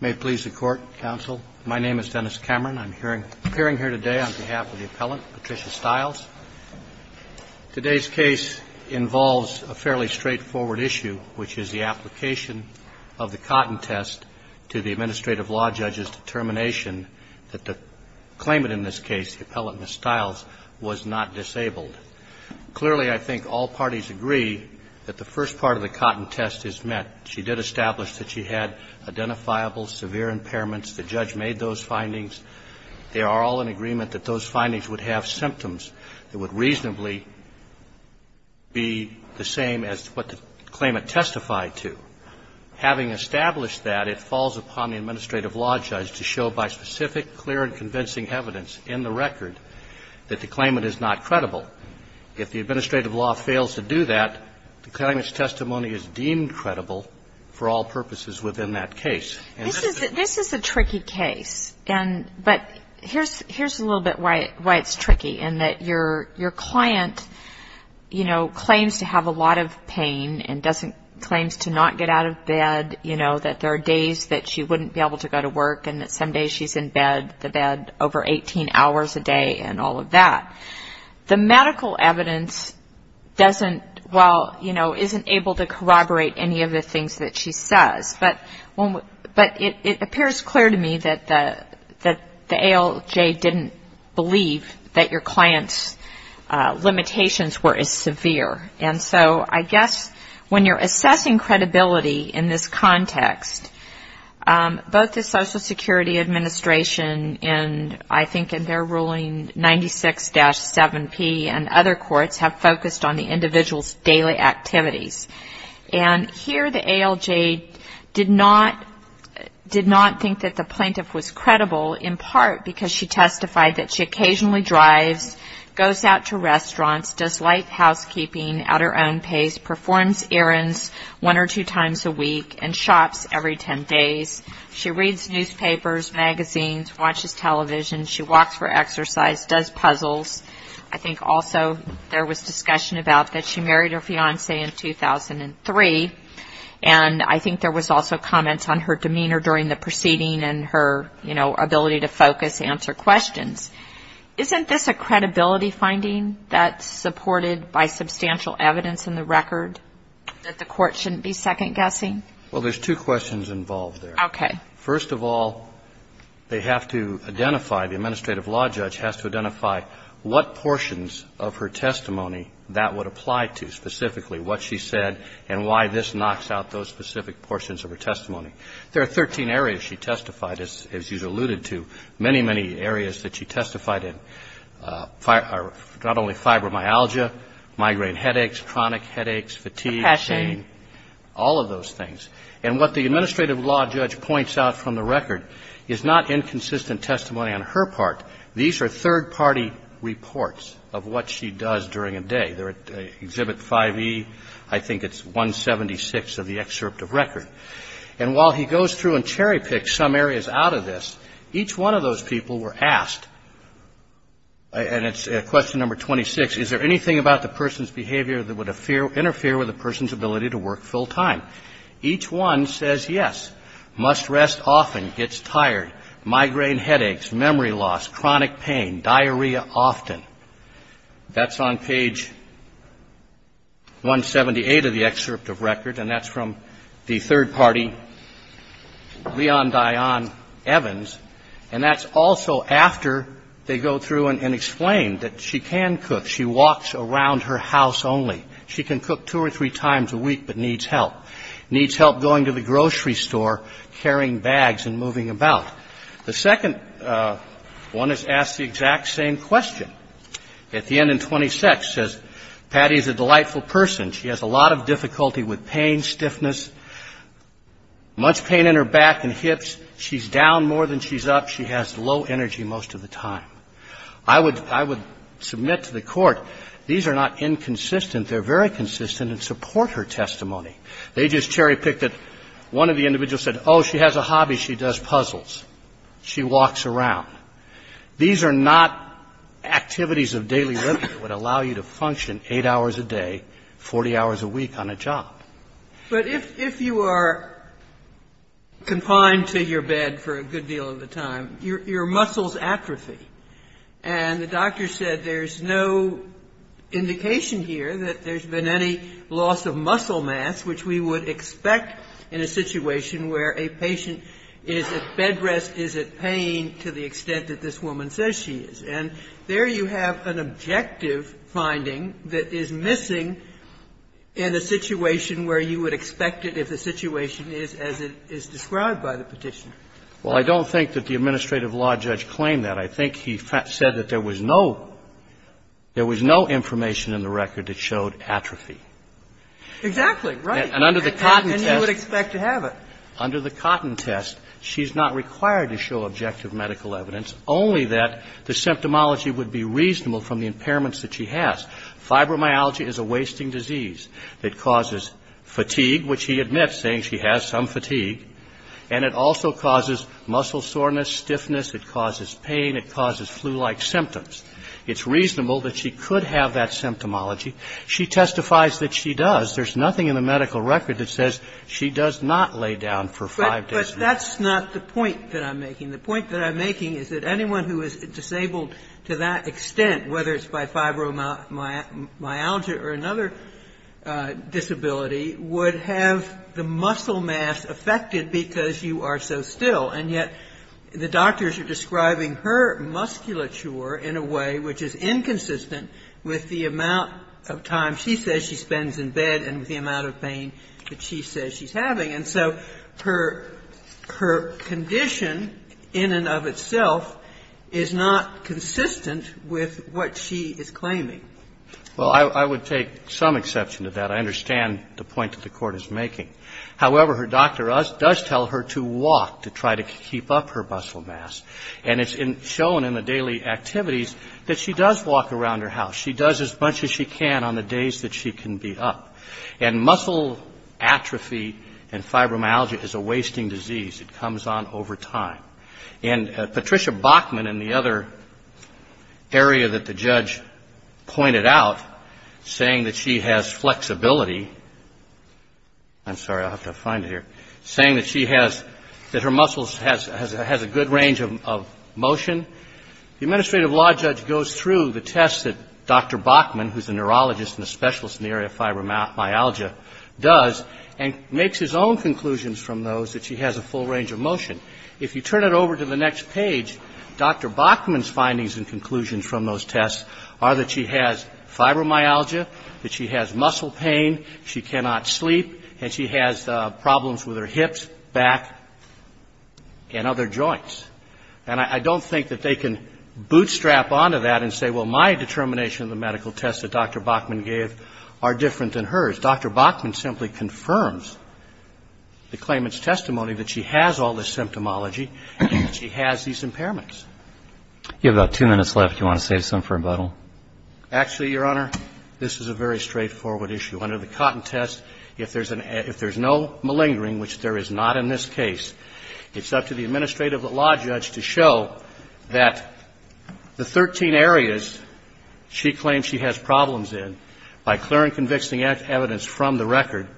May it please the Court, Counsel. My name is Dennis Cameron. I'm appearing here today on behalf of the Appellant, Patricia Stiles. Today's case involves a fairly straightforward issue, which is the application of the Cotton Test to the Administrative Law Judge's determination that the claimant in this case, the Appellant Ms. Stiles, was not disabled. Clearly I think all parties agree that the first part of the Cotton Test is met. She did establish that she had identifiable severe impairments. The judge made those findings. They are all in agreement that those findings would have symptoms that would reasonably be the same as what the claimant testified to. Having established that, it falls upon the Administrative Law Judge to show by specific, clear and convincing evidence in the record that the claimant is not credible. If the Administrative Law fails to do that, the claimant's testimony is deemed credible for all purposes within that case. This is a tricky case. But here's a little bit why it's tricky, in that your client claims to have a lot of pain and claims to not get out of bed, that there are days that she wouldn't be able to go to work and that some days she's in bed, the bed over 18 hours a day and all of that. The medical evidence doesn't, well, you know, isn't able to corroborate any of the things that she says. But it appears clear to me that the ALJ didn't believe that I guess when you're assessing credibility in this context, both the Social Security Administration and I think in their ruling 96-7P and other courts have focused on the individual's daily activities. And here the ALJ did not think that the plaintiff was credible in part because she testified that she occasionally drives, goes out to restaurants, does life housekeeping at her own pace, performs errands one or two times a week and shops every ten days. She reads newspapers, magazines, watches television. She walks for exercise, does puzzles. I think also there was discussion about that she married her fiancé in 2003. And I think there was also comments on her demeanor during the proceeding and her, you know, ability to focus, answer questions. Isn't this a credibility finding that's supported by substantial evidence in the record that the court shouldn't be second-guessing? Well, there's two questions involved there. Okay. First of all, they have to identify, the administrative law judge has to identify what portions of her testimony that would apply to, specifically what she said and why this knocks out those many, many areas that she testified in, not only fibromyalgia, migraine headaches, chronic headaches, fatigue, pain. Depression. All of those things. And what the administrative law judge points out from the record is not inconsistent testimony on her part. These are third-party reports of what she does during a day. They're at Exhibit 5E, I think it's 176 of the excerpt of record. And while he none of those people were asked, and it's question number 26, is there anything about the person's behavior that would interfere with a person's ability to work full-time? Each one says, yes, must rest often, gets tired, migraine headaches, memory loss, chronic pain, diarrhea often. That's on page 178 of the excerpt of record, and that's from the record. And that's also after they go through and explain that she can cook. She walks around her house only. She can cook two or three times a week but needs help. Needs help going to the grocery store, carrying bags and moving about. The second one is asked the exact same question. At the end in 26, it says, Patty is a delightful person. She has a lot of difficulty with pain, stiffness, much pain in her back and hips. She's down more than she's up. She has low energy most of the time. I would – I would submit to the Court, these are not inconsistent. They're very consistent and support her testimony. They just cherry-picked it. One of the individuals said, oh, she has a hobby. She does puzzles. She walks around. These are not activities of daily living that would allow you to function 8 hours a day, 40 hours a week on a job. But if you are confined to your bed for a good deal of the time, your muscles atrophy. And the doctor said there's no indication here that there's been any loss of muscle mass, which we would expect in a situation where a patient is at bed rest, is at pain to the extent that this woman says she is. And there you have an objective finding that is missing in a situation where you would expect it if the situation is as it is described by the petition. Well, I don't think that the administrative law judge claimed that. I think he said that there was no – there was no information in the record that showed atrophy. Exactly. Right. And under the Cotton test – And you would expect to have it. Under the Cotton test, she's not required to show objective medical evidence, only that the symptomology would be reasonable from the impairments that she has. Fibromyalgia is a wasting disease that causes fatigue, which he admits, saying she has some fatigue. And it also causes muscle soreness, stiffness. It causes pain. It causes flu-like symptoms. It's reasonable that she could have that symptomology. She testifies that she does. There's nothing in the medical record that says she does not lay down for five days a week. But that's not the point that I'm making. The point that I'm making is that anyone who is disabled to that extent, whether it's by fibromyalgia or another disability, would have the muscle mass affected because you are so still. And yet the doctors are describing her musculature in a way which is inconsistent with the amount of time she says she spends in bed and the amount of pain that she says she's having. And so her condition in and of itself is not consistent with what she's having or what she is claiming. Well, I would take some exception to that. I understand the point that the Court is making. However, her doctor does tell her to walk to try to keep up her muscle mass. And it's shown in the daily activities that she does walk around her house. She does as much as she can on the days that she can be up. And muscle atrophy and fibromyalgia is a wasting disease. It comes on over time. And Patricia Bachman, in the other area that the judge pointed out, saying that she has flexibility, I'm sorry, I'll have to find it here, saying that she has, that her muscles has a good range of motion, the administrative law judge goes through the tests that Dr. Bachman, who's a neurologist and a specialist in the area of fibromyalgia, does and makes his own conclusions from those that she has a full range of motion. If you turn it over to the next page, Dr. Bachman's findings and conclusions from those tests are that she has fibromyalgia, that she has muscle pain, she cannot sleep, and she has problems with her hips, back, and other joints. And I don't think that they can bootstrap onto that and say, well, my determination of the medical tests that Dr. Bachman gave are different than hers. Dr. Bachman simply confirms the claimant's testimony that she has all this symptomology and that she has these impairments. You have about two minutes left. Do you want to say something for rebuttal? Actually, Your Honor, this is a very straightforward issue. Under the Cotton Test, if there's no malingering, which there is not in this case, it's up to the administrative law judge to show that the 13 areas she claims she has problems in by clear and convicting evidence from the record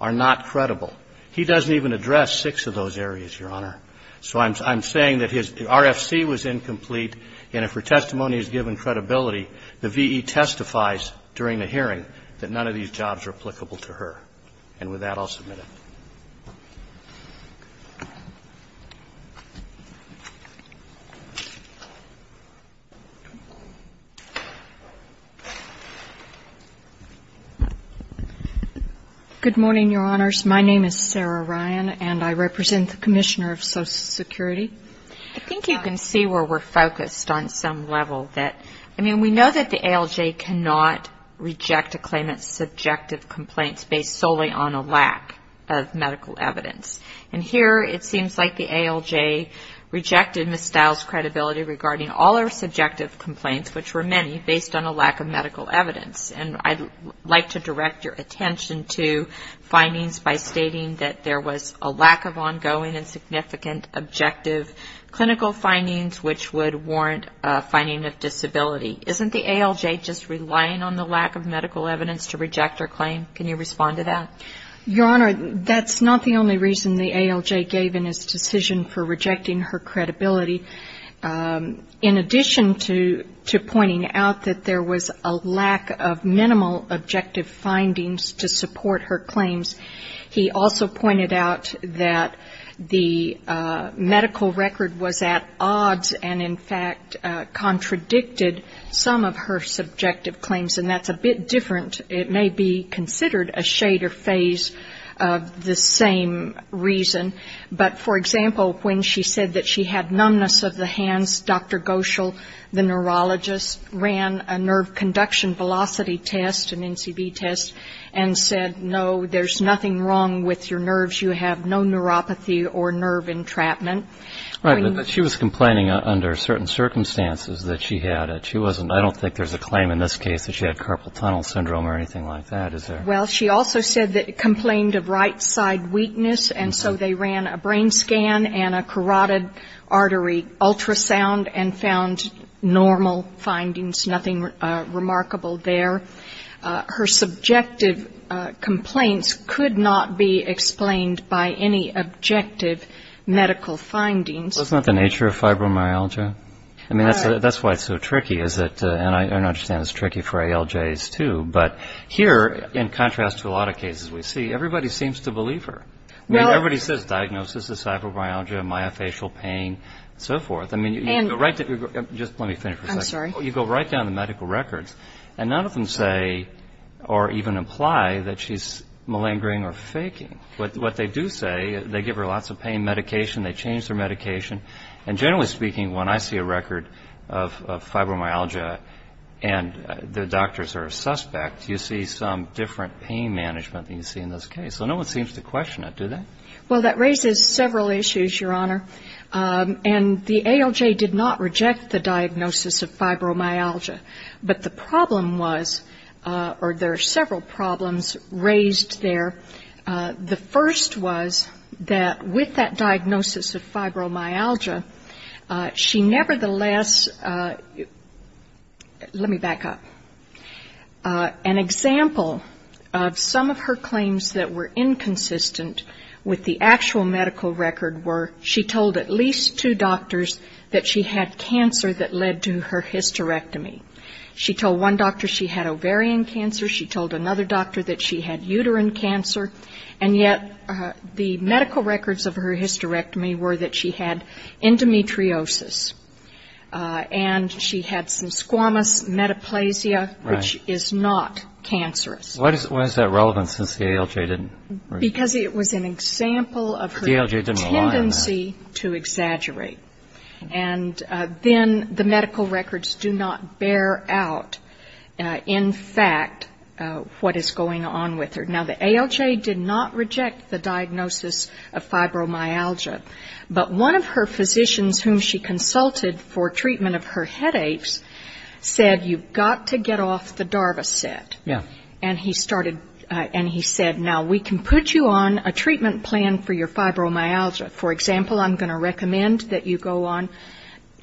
are not credible. He doesn't even address six of those areas, Your Honor. So I'm saying that his RFC was incomplete, and if her testimony is given credibility, the V.E. testifies during the hearing that none of these jobs are applicable to her. And with that, I'll submit it. Good morning, Your Honors. My name is Sarah Ryan, and I represent the Commissioner of Social Security. I think you can see where we're focused on some level. I mean, we know that the ALJ cannot reject a claimant's subjective complaints based solely on a lack of medical evidence. And here it seems like the ALJ rejected Ms. Stiles' credibility regarding all her subjective complaints, which were many, based on a lack of medical evidence. And I'd like to direct your attention to findings by stating that there was a lack of ongoing and significant objective clinical findings which would warrant a finding of disability. Isn't the ALJ just relying on the lack of medical evidence to reject her claim? Can you respond to that? Your Honor, that's not the only reason the ALJ gave in its decision for rejecting her credibility. In addition to pointing out that there was a lack of minimal objective findings to support her claims, he also pointed out that the medical record was at odds and, in fact, contradicted some of her subjective claims. And that's a bit different. It may be considered a shader phase of the same reason. But, for example, when she said that she had numbness of the hands, Dr. Goschel, the neurologist, ran a nerve conduction velocity test, an NCB test, and said, no, there's nothing wrong with your nerves. You have no neuropathy or nerve entrapment. Right. But she was complaining under certain circumstances that she had it. She wasn't, I don't think there's a claim in this case that she had carpal tunnel syndrome or anything like that, is there? Well, she also said that she complained of right side weakness and so they ran a brain scan and a carotid artery ultrasound and found normal findings, nothing remarkable there. Her subjective complaints could not be explained by any objective medical findings. Well, isn't that the nature of fibromyalgia? I mean, that's why it's so tricky, is it? And I understand it's tricky for ALJs, too. But here, in contrast to a lot of cases we see, everybody seems to believe her. Everybody says diagnosis is fibromyalgia, myofascial pain, and so forth. I mean, you go right down the medical records and none of them say or even imply that she's malingering or faking. What they do say, they give her lots of pain medication, they change her medication, and generally speaking, when I see a record of fibromyalgia and the doctors are a suspect, you see some different pain management than you see in this case. So no one seems to question it, do they? Well, that raises several issues, Your Honor. And the ALJ did not reject the diagnosis of fibromyalgia. But the problem was, or there are several problems raised there. The first was that with that diagnosis of fibromyalgia, she nevertheless, let me back up, an example of some of her claims that were inconsistent with the actual medical record were she told at least two doctors that she had cancer that led to her hysterectomy. She told one doctor she had ovarian cancer, she told another doctor that she had uterine cancer, and yet the medical records of her hysterectomy were that she had endometriosis. And she had some squamous metaplasia, which is not cancerous. Why is that relevant since the ALJ didn't? Because it was an example of her tendency to exaggerate. And then the medical records do not bear out, in fact, what is going on with her. Now, the ALJ did not reject the diagnosis of fibromyalgia, but one of her physicians whom she consulted for treatment of her headaches said, you've got to get off the DARVA set. And he started, and he said, now we can put you on a treatment plan for your fibromyalgia. For example, I'm going to recommend that you go on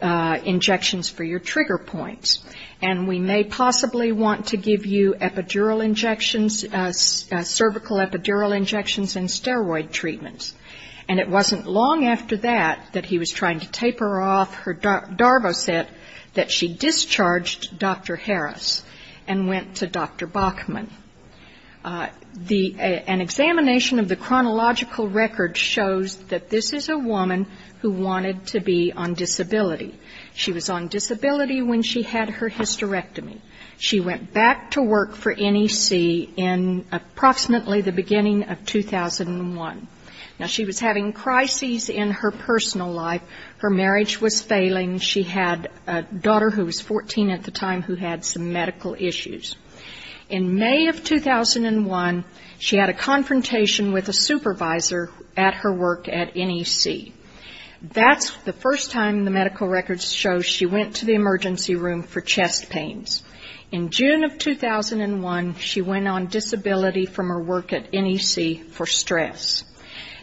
injections for your trigger points. And we may possibly want to give you epidural injections, cervical epidural injections and steroid treatments. And it wasn't long after that, that he was trying to taper off her DARVA set, that she discharged Dr. Harris and went to Dr. Bachman. An examination of the chronological record shows that this is a woman who wanted to be on disability. She was on disability when she had her hysterectomy. She went back to work for NEC in approximately the beginning of 2001. Now, she was having crises in her personal life. Her marriage was failing. She had a daughter who was 14 at the time who had some medical issues. In May of 2001, she had a confrontation with a supervisor at her work at NEC. That's the first time the medical records show she went to the emergency room for chest pains. In June of 2001, she went on disability from her work at NEC for stress.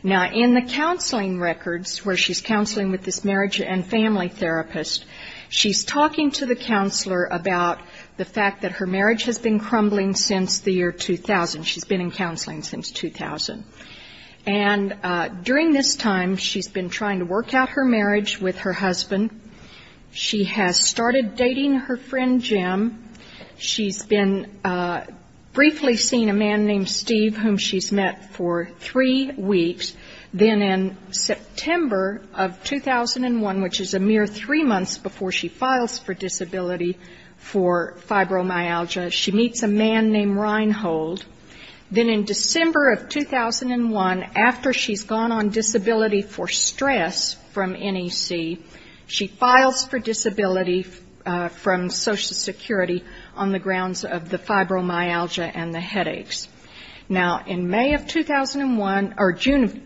Now, in the counseling records, where she's counseling with this marriage and family therapist, she's talking to the counselor about the fact that her marriage has been crumbling since the year 2000. She's been in counseling since 2000. And during this time, she's been trying to work out her marriage with her husband. She has started dating her friend Jim. She's been briefly seeing a man named Steve, whom she's met for three weeks. Then in September of 2001, which is a mere three months before she files for disability for fibromyalgia, she meets a man named Reinhold. Then in December of 2001, after she's gone on disability for stress from NEC, she files for disability from Social Security on the grounds of the fibromyalgia and the headaches. Now, in May of 2001, or June of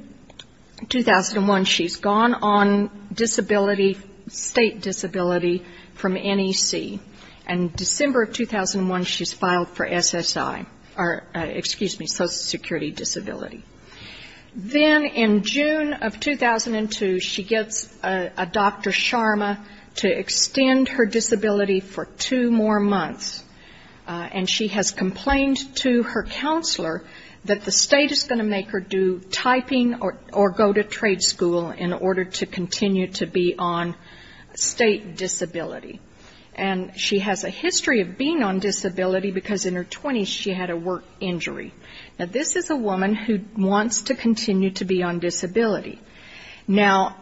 2001, she's gone on disability, state disability, from NEC. And December of 2001, she's filed for SSI, or excuse me, Social Security disability. Then in June of 2002, she gets a Dr. Sharma to extend her disability for two more months. And she has complained to her counselor that the state is going to make her do typing or go to trade school in order to continue to be on state disability. And she has a history of being on disability because in her 20s, she had a work injury. Now, this is a woman who wants to continue to be on disability. Now,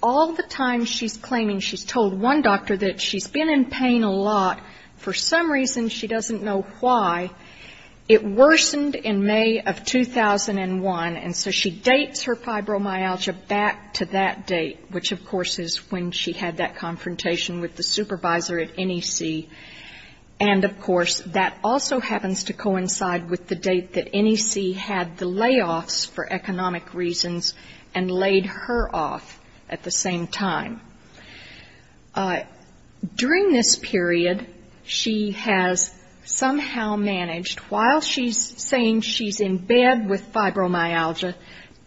all the time she's claiming, she's told one doctor that she's been in pain a lot. For some reason, she doesn't know why. It worsened in May of 2001, and so she dates her fibromyalgia back to that date, which, of course, is when she had that confrontation with the supervisor at NEC. And, of course, that also happens to coincide with the date that NEC had the layoffs for economic reasons and laid her off at the same time. During this period, she has somehow managed, while she's saying she's in bed with fibromyalgia,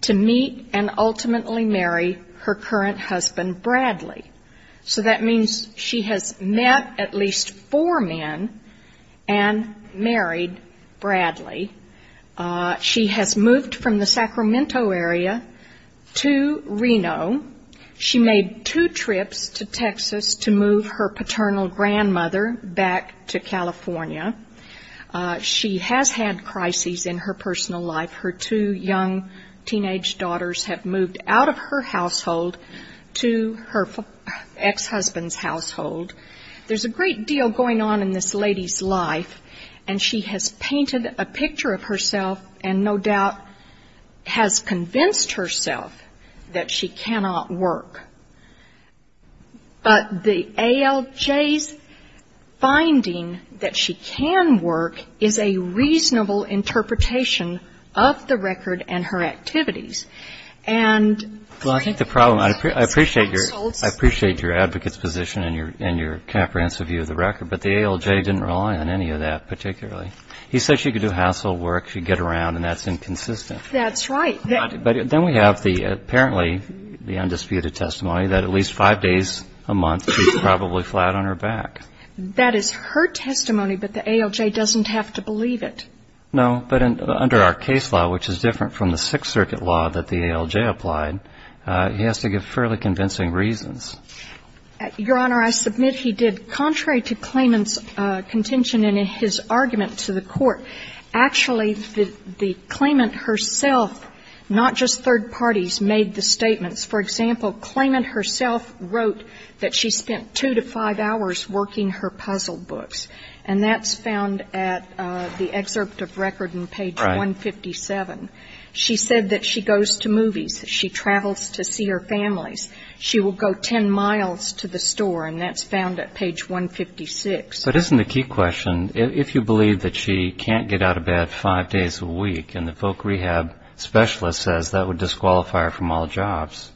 to meet and ultimately marry her current husband, Bradley. So that means she has met at least four men and married Bradley. She has moved from the Sacramento area to Reno. She made two trips to Texas to move her paternal grandmother back to California. She has had crises in her personal life. Her two young teenage daughters have moved out of her household to her ex-husband's household. There's a great deal going on in this lady's life, and she has painted a picture of herself and no doubt has convinced herself that she cannot work. But the ALJ's finding that she can work is a reasonable interpretation of the record and her activities. And... Well, I think the problem... I appreciate your advocate's position and your comprehensive view of the record, but the ALJ didn't rely on any of that particularly. He said she could do household work, she'd get around, and that's inconsistent. That's right. But then we have apparently the undisputed testimony that at least five days a month she's probably flat on her back. That is her testimony, but the ALJ doesn't have to believe it. No, but under our case law, which is different from the Sixth Circuit law that the ALJ applied, he has to give fairly convincing reasons. Your Honor, I submit he did. Contrary to Klayman's contention in his argument to the court, actually the Klayman herself, not just third parties, made the statements. For example, Klayman herself wrote that she spent two to five hours working her puzzle books, and that's found at the excerpt of record on page 157. Right. She said that she goes to movies, she travels to see her families, she will go ten miles to the store, and that's found at page 156. But isn't the key question, if you believe that she can't get out of bed five days a week and the voc rehab specialist says that would disqualify her from all jobs,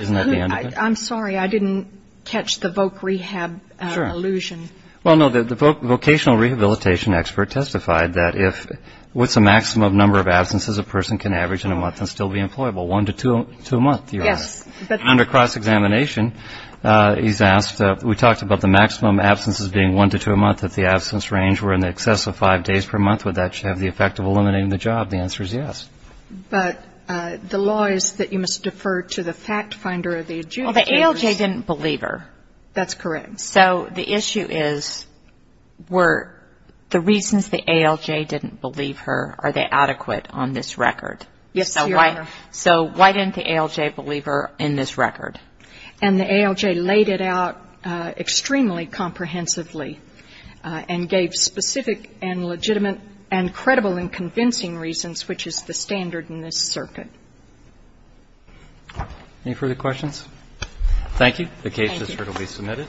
isn't that the end of it? I'm sorry, I didn't catch the voc rehab illusion. Sure. Well, no, the vocational rehabilitation expert testified that if what's the maximum number of absences a person can average in a month and still be employable? One to two a month, Your Honor. Yes. And under cross-examination, he's asked, we talked about the maximum absences being one to two a month if the absence range were in excess of five days per month, would that have the effect of eliminating the job? The answer is yes. But the law is that you must defer to the fact finder of the adjudicators. Well, the ALJ didn't believe her. That's correct. So the issue is were the reasons the ALJ didn't believe her, are they adequate on this record? Yes, Your Honor. So why didn't the ALJ believe her in this record? And the ALJ laid it out extremely comprehensively and gave specific and legitimate and credible and convincing reasons which is the standard in this circuit. Any further questions? Thank you. The case is certainly submitted.